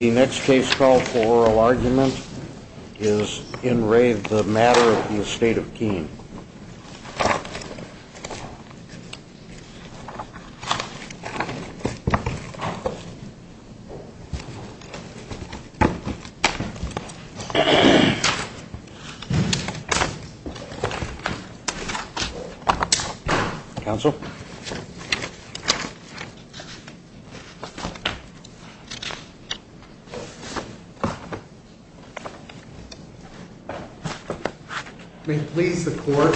The next case call for oral argument is in Ray, the matter of the estate of Keen. Council. Please support.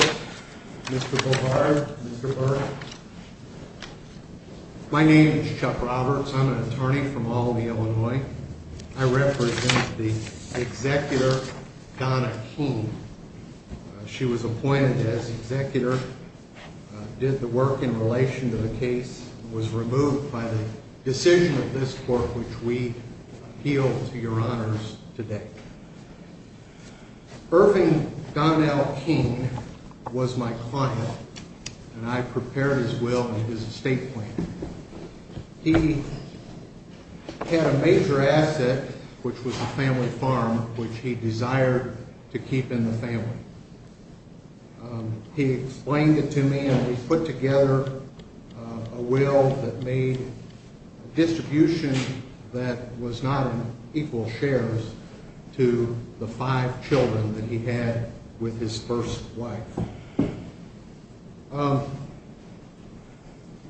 My name is Chuck Roberts. I'm an attorney from all the Illinois. I represent the executor. She was appointed as executor. Did the work in relation to the case was removed by the decision of this We appeal to your honors today. Irving Donnell King was my client and I prepared as well as a state plan. He had a major asset, which was a family farm, which he desired to keep in the family. He explained it to me and we put together a will that made distribution. That was not equal shares to the five children that he had with his first wife.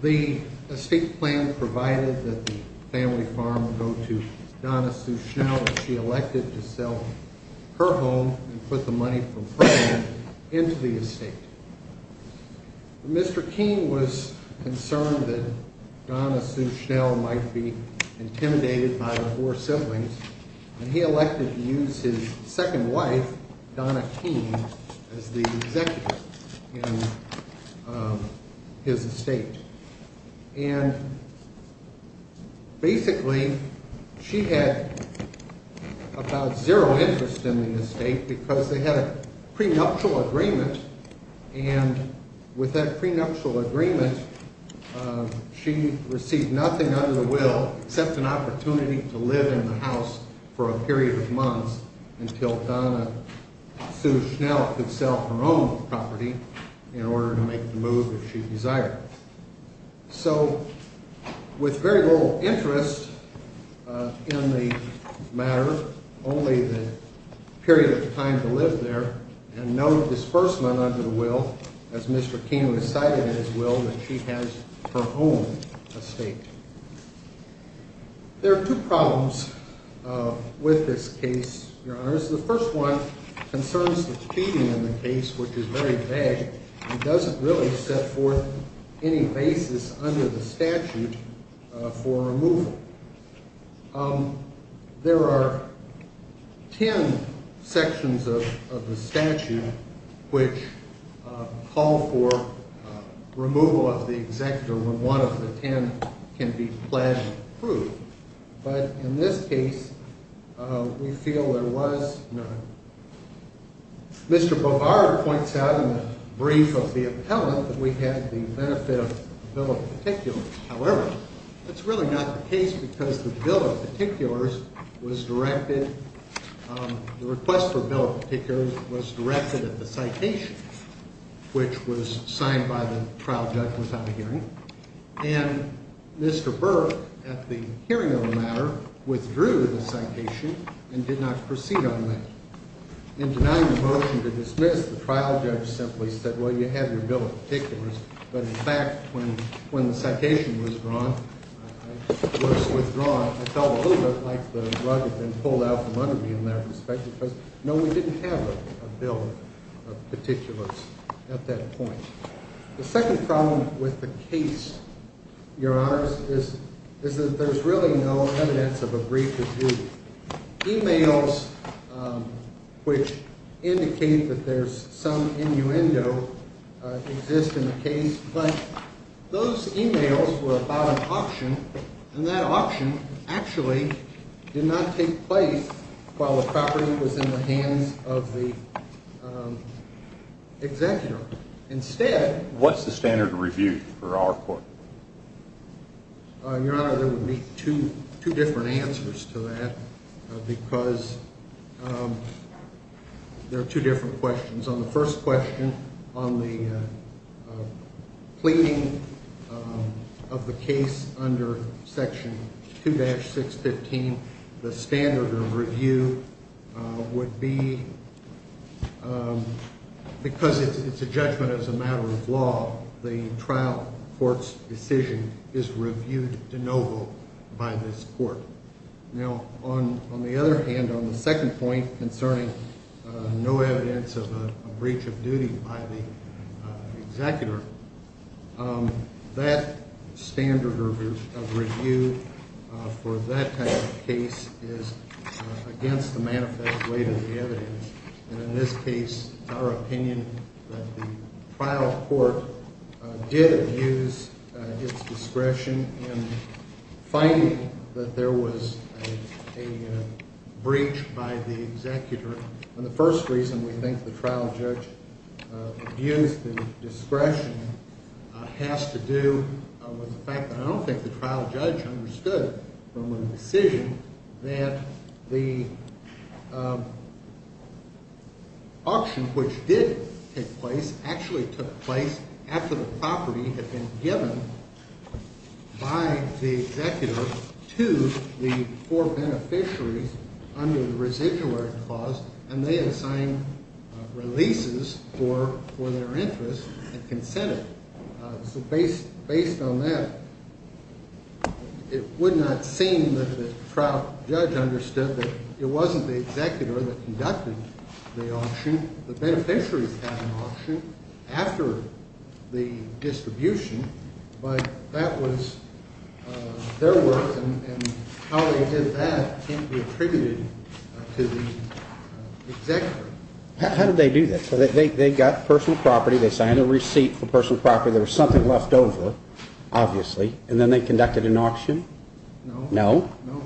The estate plan provided that the family farm go to Donna. She elected to sell her home and put the money from into the estate. Mr. King was concerned that Donna Sue Schnell might be intimidated by the poor siblings. He elected to use his second wife, Donna King, as the executive in his estate. And basically, she had about zero interest in the estate because they had a prenuptial agreement. And with that prenuptial agreement, she received nothing under the will, except an opportunity to live in the house for a period of months until Donna Sue Schnell could sell her own property in order to make the move if she desired. So, with very little interest in the matter, only the period of time to live there and no disbursement under the will, as Mr. King decided in his will that she has her own estate. There are two problems with this case. The first one concerns the cheating in the case, which is very vague. It doesn't really set forth any basis under the statute for removal. There are ten sections of the statute which call for removal of the executive when one of the ten can be pledged proof. But in this case, we feel there was none. Mr. Bovard points out in the brief of the appellant that we had the benefit of the bill of particulars. However, that's really not the case because the request for the bill of particulars was directed at the citation, which was signed by the trial judge without a hearing. And Mr. Burr, at the hearing of the matter, withdrew the citation and did not proceed on that. In denying the motion to dismiss, the trial judge simply said, well, you have your bill of particulars. But in fact, when the citation was withdrawn, I felt a little bit like the rug had been pulled out from under me in that respect because, no, we didn't have a bill of particulars at that point. The second problem with the case, Your Honors, is that there's really no evidence of a brief of duty. Emails which indicate that there's some innuendo exist in the case. But those emails were about an auction, and that auction actually did not take place while the property was in the hands of the executor. Instead... What's the standard of review for our court? Your Honor, there would be two different answers to that because there are two different questions. On the first question, on the pleading of the case under Section 2-615, the standard of review would be, because it's a judgment as a matter of law, the trial court's decision is reviewed de novo by this court. Now, on the other hand, on the second point concerning no evidence of a breach of duty by the executor, that standard of review for that type of case is against the manifest weight of the evidence. And in this case, it's our opinion that the trial court did abuse its discretion in finding that there was a breach by the executor. And the first reason we think the trial judge abused the discretion has to do with the fact that I don't think the trial judge understood from the decision that the auction, which did take place, actually took place after the property had been given by the executor to the four beneficiaries under the residuary clause, and they had signed releases for their interest and consented. So based on that, it would not seem that the trial judge understood that it wasn't the executor that conducted the auction. The beneficiaries had an auction after the distribution, but that was their work, and how they did that can't be attributed to the executor. How did they do that? So they got personal property, they signed a receipt for personal property, there was something left over, obviously, and then they conducted an auction? No. No.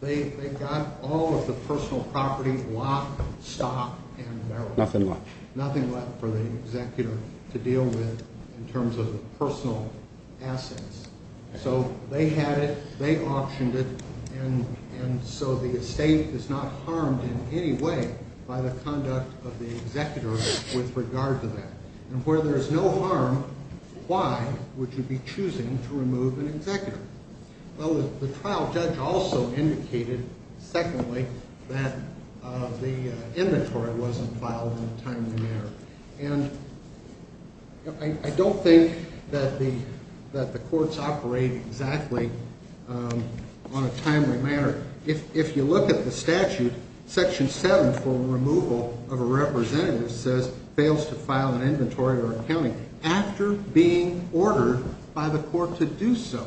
They got all of the personal property, lock, stock, and barrel. Nothing left. Nothing left for the executor to deal with in terms of personal assets. So they had it, they auctioned it, and so the estate is not harmed in any way by the conduct of the executor with regard to that. And where there is no harm, why would you be choosing to remove an executor? Well, the trial judge also indicated, secondly, that the inventory wasn't filed in a timely manner. And I don't think that the courts operate exactly on a timely manner. If you look at the statute, Section 7 for removal of a representative fails to file an inventory or accounting after being ordered by the court to do so.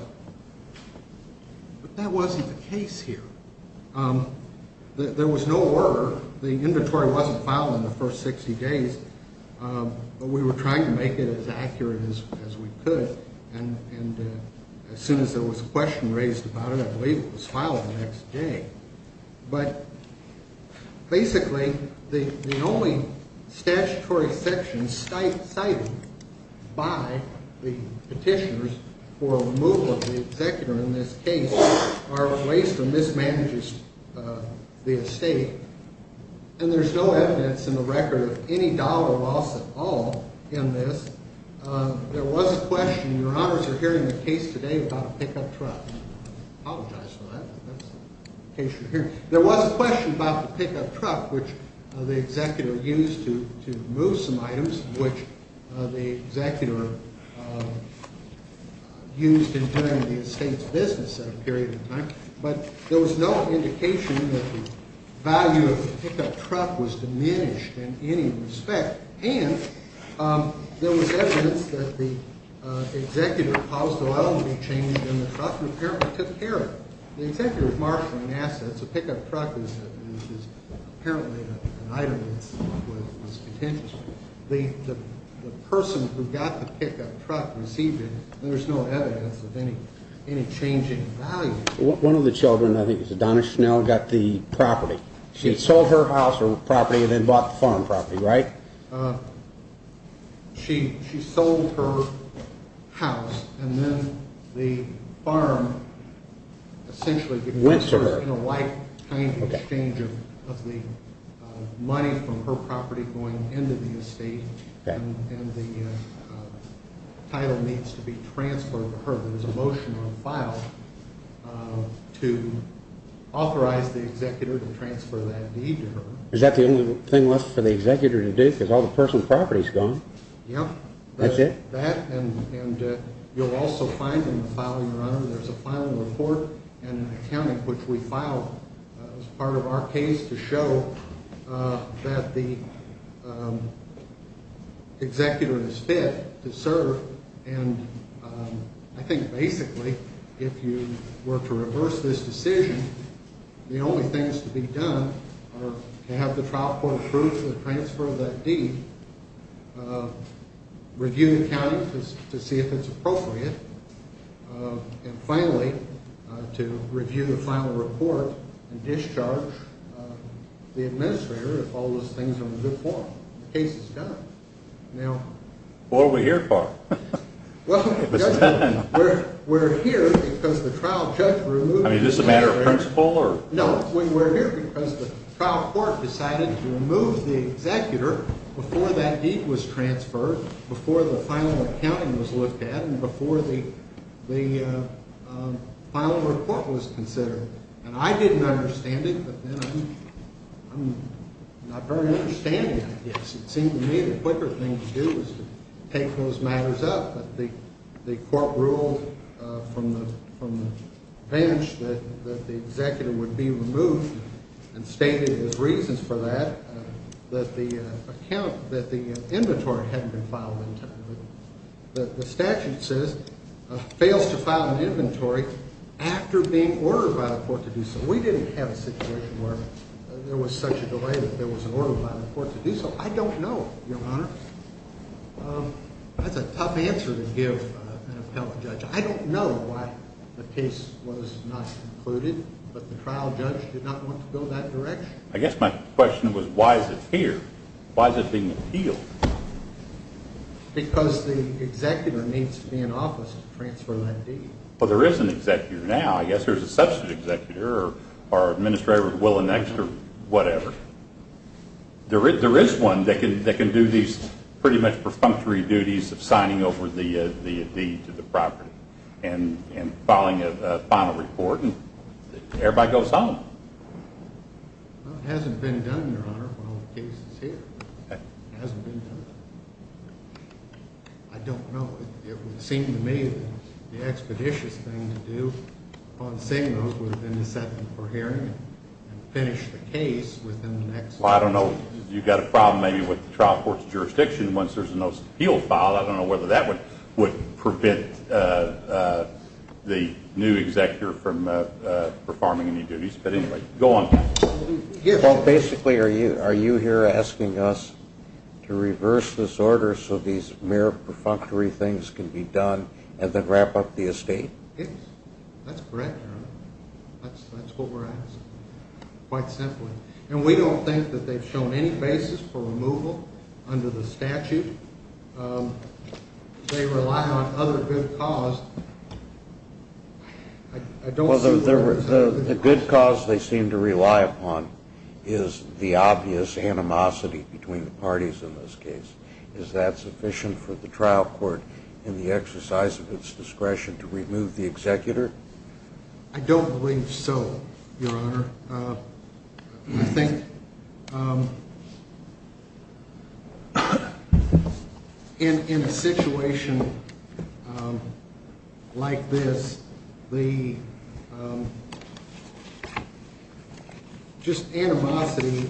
But that wasn't the case here. There was no order. The inventory wasn't filed in the first 60 days, but we were trying to make it as accurate as we could. And as soon as there was a question raised about it, I believe it was filed the next day. But basically, the only statutory sections cited by the petitioners for removal of the executor in this case are ways to mismanage the estate. And there's no evidence in the record of any doubt or loss at all in this. There was a question, and your honors are hearing the case today about a pickup truck. I apologize for that, but that's the case you're hearing. There was a question about the pickup truck, which the executor used to move some items, which the executor used in doing the estate's business at a period of time. But there was no indication that the value of the pickup truck was diminished in any respect. And there was evidence that the executor caused oil to be changed in the truck and apparently took care of it. The executor is marshalling assets. A pickup truck is apparently an item that's potential. The person who got the pickup truck received it. There's no evidence of any change in the value. One of the children, I think it was Donna Schnell, got the property. She sold her house or property and then bought the farm property, right? She sold her house and then the farm essentially became a lifetime exchange of the money from her property going into the estate. And the title needs to be transferred to her. There's a motion on file to authorize the executor to transfer that deed to her. Is that the only thing left for the executor to do because all the person's property is gone? Yep. That's it? That and you'll also find in the filing, your honor, there's a filing report and an accounting which we filed as part of our case to show that the executor is fit to serve. And I think basically if you were to reverse this decision, the only things to be done are to have the trial court approve the transfer of that deed, review the accounting to see if it's appropriate, and finally to review the final report and discharge the administrator if all those things are in good form. The case is done. What are we here for? Well, we're here because the trial court decided to remove the executor before that deed was transferred, before the final accounting was looked at, and before the final report was considered. And I didn't understand it, but then I'm not very understanding it. Yes, it seemed to me the quicker thing to do was to take those matters up. The court ruled from the bench that the executor would be removed and stated his reasons for that, that the account, that the inventory hadn't been filed in time. The statute says, fails to file an inventory after being ordered by the court to do so. We didn't have a situation where there was such a delay that there was an order by the court to do so. I don't know, Your Honor. That's a tough answer to give an appellate judge. I don't know why the case was not concluded, but the trial judge did not want to go that direction. I guess my question was, why is it here? Why is it being appealed? Because the executor needs to be in office to transfer that deed. Well, there is an executor now. I guess there's a substitute executor or administrator at Willenext or whatever. There is one that can do these pretty much perfunctory duties of signing over the deed to the property and filing a final report, and everybody goes home. Well, it hasn't been done, Your Honor, for all the cases here. It hasn't been done. I don't know. It would seem to me that the expeditious thing to do upon seeing those would have been to set them for hearing and finish the case within the next... Well, I don't know. You've got a problem maybe with the trial court's jurisdiction once there's a notice of appeal filed. I don't know whether that would prevent the new executor from performing any duties. But anyway, go on. Well, basically, are you here asking us to reverse this order so these mere perfunctory things can be done and then wrap up the estate? Yes. That's correct, Your Honor. That's what we're asking, quite simply. And we don't think that they've shown any basis for removal under the statute. They rely on other good cause. Well, the good cause they seem to rely upon is the obvious animosity between the parties in this case. Is that sufficient for the trial court in the exercise of its discretion to remove the executor? I don't believe so, Your Honor. I think in a situation like this, the just animosity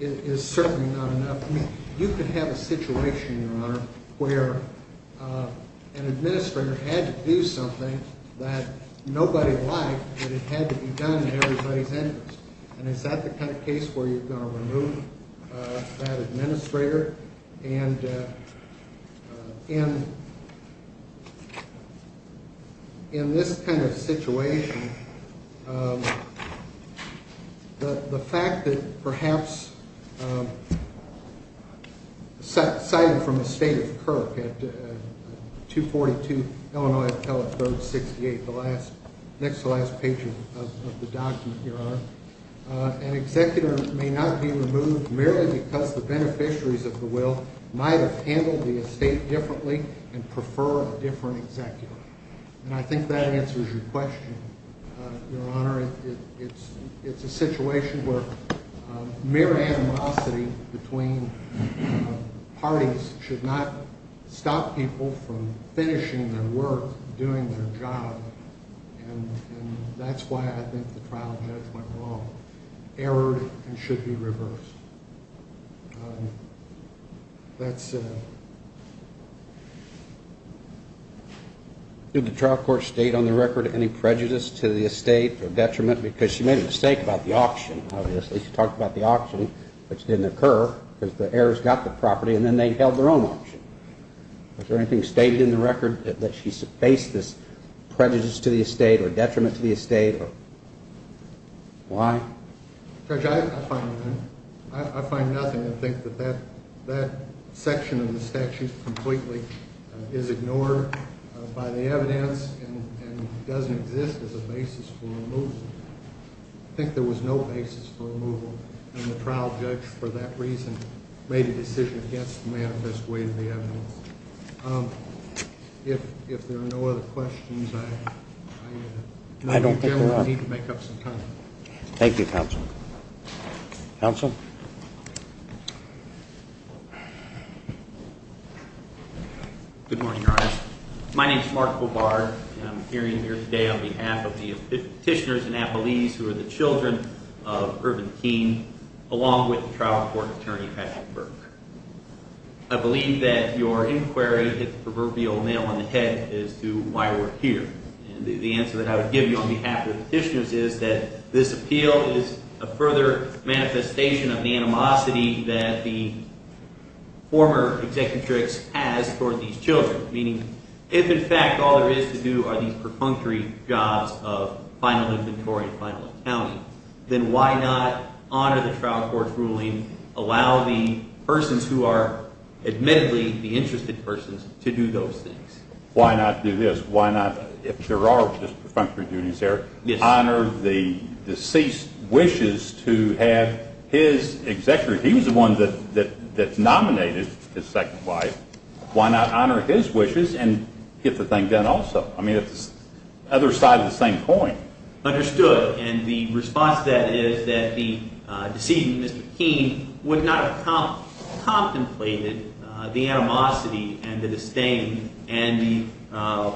is certainly not enough. You could have a situation, Your Honor, where an administrator had to do something that nobody liked that it had to be done at everybody's interest. And is that the kind of case where you're going to remove that administrator? And in this kind of situation, the fact that perhaps cited from the State of Kirk at 242 Illinois Appellate Code 68, next to the last page of the document, Your Honor, an executor may not be removed merely because the beneficiaries of the will might have handled the estate differently and prefer a different executor. And I think that answers your question, Your Honor. It's a situation where mere animosity between parties should not stop people from finishing their work, doing their job. And that's why I think the trial judge went wrong, erred and should be reversed. Did the trial court state on the record any prejudice to the estate or detriment? Because she made a mistake about the auction, obviously. She talked about the auction, which didn't occur, because the heirs got the property, and then they held their own auction. Was there anything stated in the record that she faced as prejudice to the estate or detriment to the estate? Why? Judge, I find nothing. I find nothing. I think that that section of the statute completely is ignored by the evidence and doesn't exist as a basis for removal. I think there was no basis for removal. And the trial judge, for that reason, made a decision against the manifest way of the evidence. If there are no other questions, I need to make up some time. Thank you, Counsel. Good morning, Your Honor. My name is Mark Bovard, and I'm appearing here today on behalf of the Petitioners and Appellees who are the children of Irvin Keene, along with the trial court attorney, Patrick Burke. I believe that your inquiry hit the proverbial nail on the head as to why we're here. And the answer that I would give you on behalf of the Petitioners is that this appeal is a further manifestation of the animosity that the former executrix has toward these children. Meaning, if in fact all there is to do are these perfunctory jobs of final inventory and final accounting, then why not honor the trial court's ruling, allow the persons who are admittedly the interested persons to do those things? Why not do this? Why not, if there are just perfunctory duties there, honor the deceased's wishes to have his executor, if he was the one that nominated his second wife, why not honor his wishes and get the thing done also? I mean, it's the other side of the same coin. Understood. And the response to that is that the deceased, Mr. Keene, would not have contemplated the animosity and the disdain and the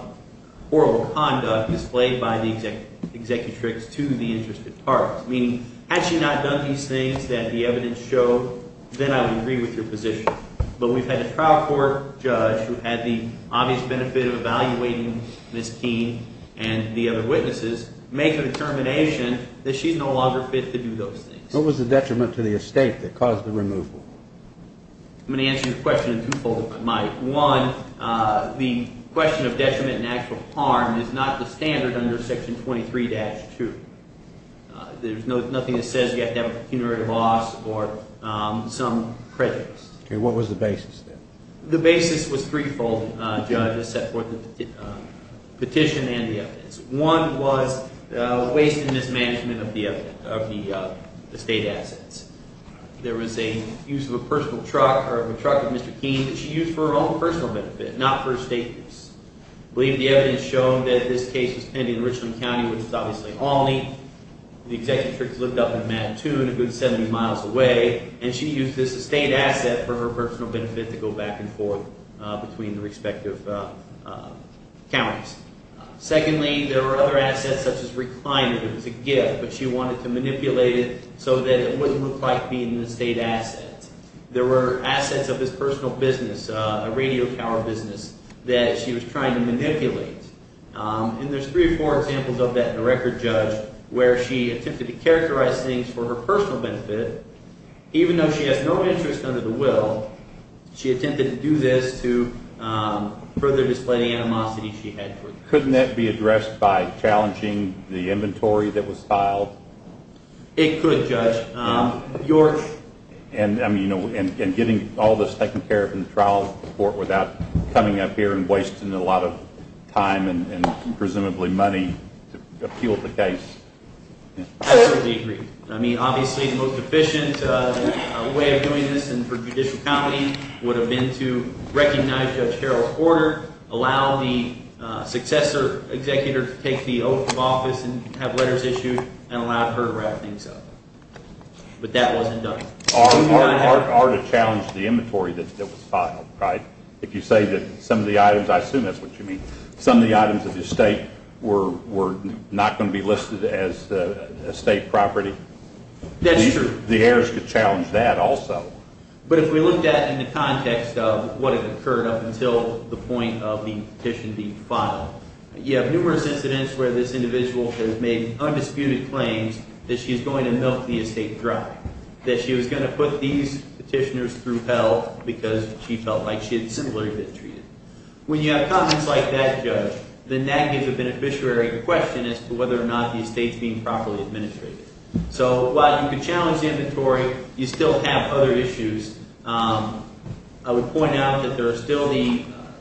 horrible conduct displayed by the executrix to the interested parties. Meaning, had she not done these things that the evidence showed, then I would agree with your position. But we've had a trial court judge who had the obvious benefit of evaluating Ms. Keene and the other witnesses, make a determination that she's no longer fit to do those things. What was the detriment to the estate that caused the removal? I'm going to answer your question in twofold, Mike. One, the question of detriment and actual harm is not the standard under Section 23-2. There's nothing that says you have to have a pecuniary loss or some prejudice. Okay, what was the basis then? The basis was threefold, Judge, except for the petition and the evidence. One was waste and mismanagement of the estate assets. There was a use of a personal truck, or of a truck of Mr. Keene, that she used for her own personal benefit, not for estate use. I believe the evidence showed that this case was pending in Richland County, which is obviously Albany. The executrix lived up in Mattoon, a good 70 miles away. And she used this estate asset for her personal benefit to go back and forth between the respective counties. Secondly, there were other assets, such as reclining. It was a gift, but she wanted to manipulate it so that it wouldn't look like being an estate asset. There were assets of his personal business, a radio tower business, that she was trying to manipulate. And there's three or four examples of that in the record, Judge, where she attempted to characterize things for her personal benefit, even though she has no interest under the will. She attempted to do this to further display the animosity she had. Couldn't that be addressed by challenging the inventory that was filed? It could, Judge. And getting all this taken care of in the trial court without coming up here and wasting a lot of time and presumably money to appeal the case. I totally agree. I mean, obviously the most efficient way of doing this and for judicial comedy would have been to recognize Judge Harold Porter, allow the successor executor to take the oath of office and have letters issued, and allow her to wrap things up. But that wasn't done. Or to challenge the inventory that was filed, right? If you say that some of the items, I assume that's what you mean, some of the items of the estate were not going to be listed as estate property. That's true. The heirs could challenge that also. But if we looked at it in the context of what had occurred up until the point of the petition being filed, you have numerous incidents where this individual has made undisputed claims that she's going to milk the estate dry, that she was going to put these petitioners through hell because she felt like she had similarly been treated. When you have comments like that, Judge, then that gives a beneficiary question as to whether or not the estate's being properly administrated. So while you could challenge the inventory, you still have other issues. I would point out that there are still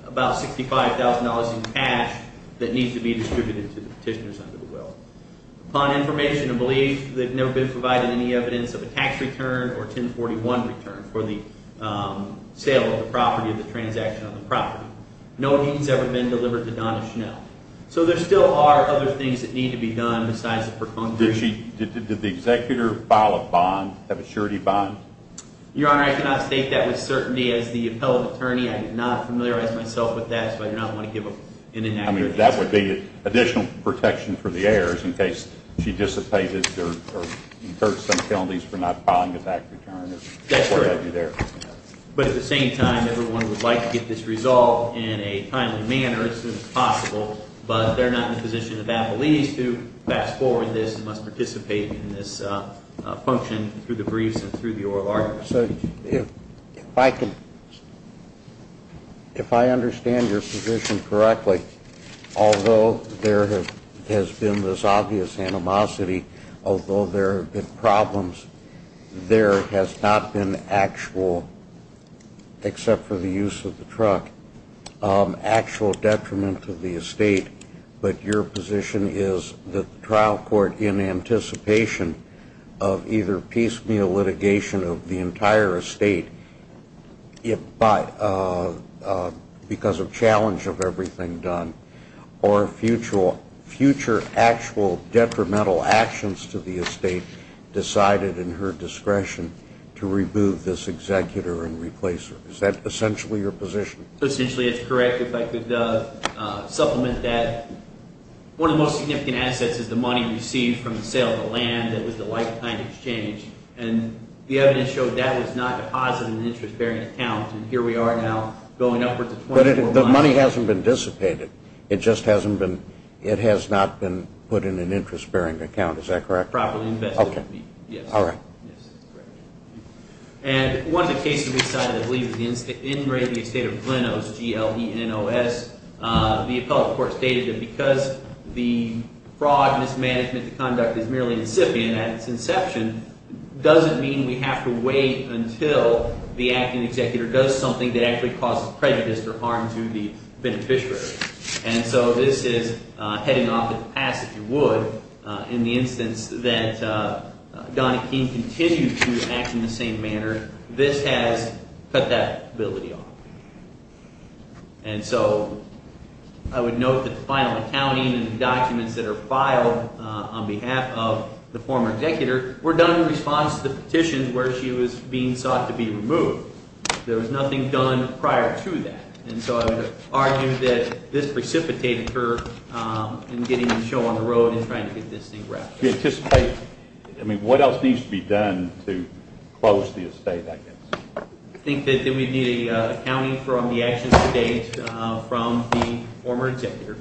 about $65,000 in cash that needs to be distributed to the petitioners under the will. Upon information and belief, they've never been provided any evidence of a tax return or a 1041 return for the sale of the property or the transaction of the property. No deed has ever been delivered to Donna Chanel. So there still are other things that need to be done besides the preconditions. Did the executor file a bond, have a surety bond? Your Honor, I cannot state that with certainty. As the appellate attorney, I did not familiarize myself with that, so I do not want to give an inaccurate answer. I mean, that would be additional protection for the heirs in case she dissipated or incurred some penalties for not filing a tax return. That's correct. But at the same time, everyone would like to get this resolved in a timely manner as soon as possible, but they're not in the position of appellees to fast forward this and must participate in this function through the briefs and through the oral argument. So if I can, if I understand your position correctly, although there has been this obvious animosity, although there have been problems, there has not been actual, except for the use of the truck, actual detriment to the estate. But your position is that the trial court, in anticipation of either piecemeal litigation of the entire estate because of challenge of everything done, or future actual detrimental actions to the estate, decided in her discretion to remove this executor and replace her. Is that essentially your position? Essentially, it's correct. If I could supplement that, one of the most significant assets is the money received from the sale of the land that was the lifetime exchange. And the evidence showed that was not a positive interest bearing account, and here we are now going upward to 24 months. But the money hasn't been dissipated. It just hasn't been, it has not been put in an interest bearing account. Is that correct? Properly invested. Okay. Yes. All right. Yes, that's correct. And one of the cases we decided to leave was the engraving of the estate of Glenose, G-L-E-N-O-S. The appellate court stated that because the fraud, mismanagement, the conduct is merely incipient at its inception, doesn't mean we have to wait until the acting executor does something that actually causes prejudice or harm to the beneficiary. And so this is heading off to the past, if you would. In the instance that Donna King continued to act in the same manner, this has cut that ability off. And so I would note that the final accounting and the documents that are filed on behalf of the former executor were done in response to the petitions where she was being sought to be removed. There was nothing done prior to that. And so I would argue that this precipitated her in getting in the show on the road and trying to get this thing wrapped up. Do you anticipate, I mean, what else needs to be done to close the estate, I guess? I think that we'd need accounting from the actions to date from the former executor.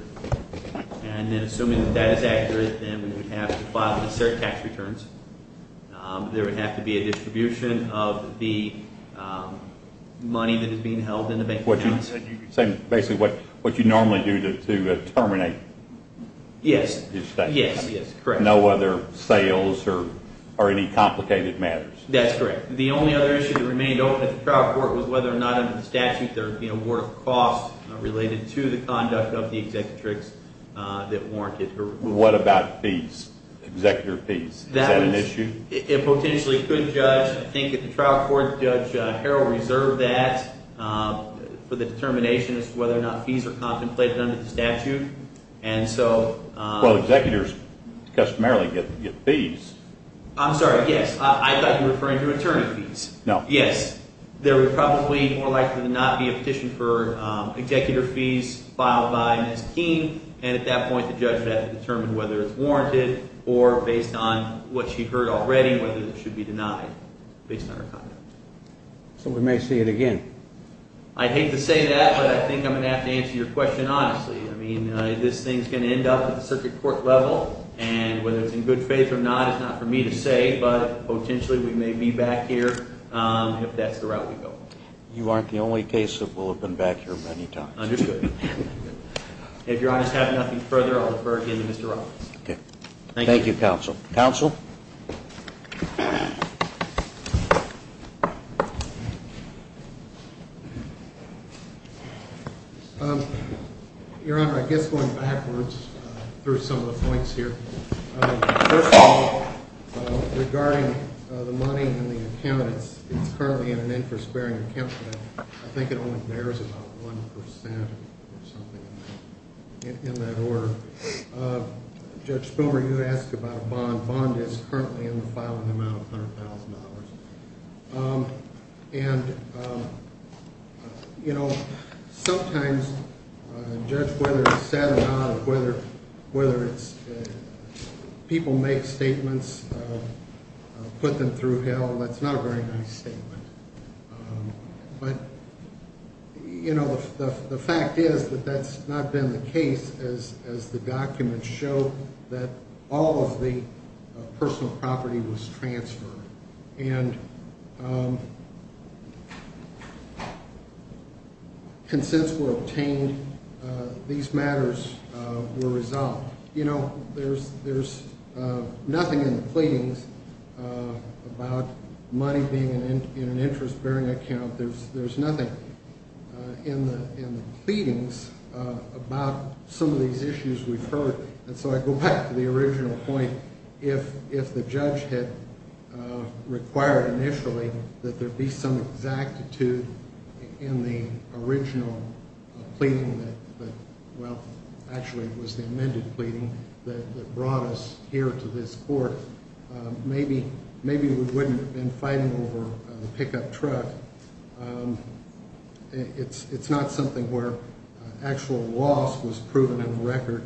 And then assuming that that is accurate, then we would have to file the cert tax returns. There would have to be a distribution of the money that is being held in the bank accounts. So basically what you normally do to terminate the estate? Yes, yes, correct. No other sales or any complicated matters? That's correct. The only other issue that remained open at the trial court was whether or not under the statute there were costs related to the conduct of the executrix that warranted her removal. What about fees? Executor fees? Is that an issue? It potentially could, Judge. I think at the trial court, Judge Harrell reserved that for the determination as to whether or not fees are contemplated under the statute. Well, executors customarily get fees. I'm sorry, yes. I thought you were referring to attorney fees. No. Yes. There would probably more likely than not be a petition for executor fees filed by Ms. Keene. And at that point, the judge would have to determine whether it's warranted or based on what she heard already, whether it should be denied based on her conduct. So we may see it again. I'd hate to say that, but I think I'm going to have to answer your question honestly. I mean, this thing's going to end up at the circuit court level. And whether it's in good faith or not is not for me to say, but potentially we may be back here if that's the route we go. You aren't the only case that will have been back here many times. Understood. If your honors have nothing further, I'll refer again to Mr. Roberts. Thank you, counsel. Counsel? Your honor, I guess going backwards through some of the points here. First of all, regarding the money in the account, it's currently in an interest bearing account, but I think it only bears about 1% or something in that order. Judge Spilberg, you asked about a bond. Bond is currently in the filing amount of $100,000. And, you know, sometimes, judge, whether it's sad or not, whether it's people make statements, put them through hell, that's not a very nice statement. But, you know, the fact is that that's not been the case as the documents show that all of the personal property was transferred. And consents were obtained. These matters were resolved. You know, there's nothing in the pleadings about money being in an interest bearing account. There's nothing in the pleadings about some of these issues we've heard. And so I go back to the original point. If the judge had required initially that there be some exactitude in the original pleading that, well, actually it was the amended pleading that brought us here to this court, maybe we wouldn't have been fighting over the pickup truck. It's not something where actual loss was proven in the record.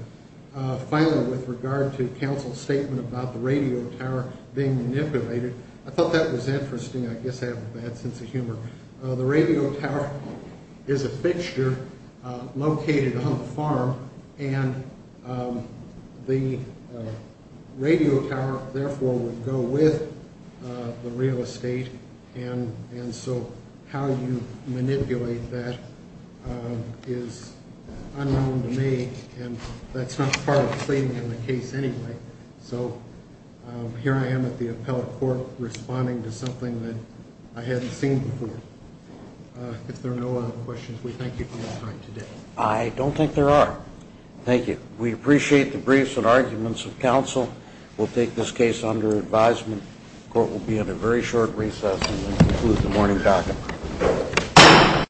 Finally, with regard to counsel's statement about the radio tower being manipulated, I thought that was interesting. I guess I have a bad sense of humor. The radio tower is a fixture located on the farm. And the radio tower, therefore, would go with the real estate. And so how you manipulate that is unknown to me. And that's not part of pleading in the case anyway. So here I am at the appellate court responding to something that I hadn't seen before. If there are no other questions, we thank you for your time today. I don't think there are. Thank you. We appreciate the briefs and arguments of counsel. We'll take this case under advisement. The court will be at a very short recess and then conclude the morning docket.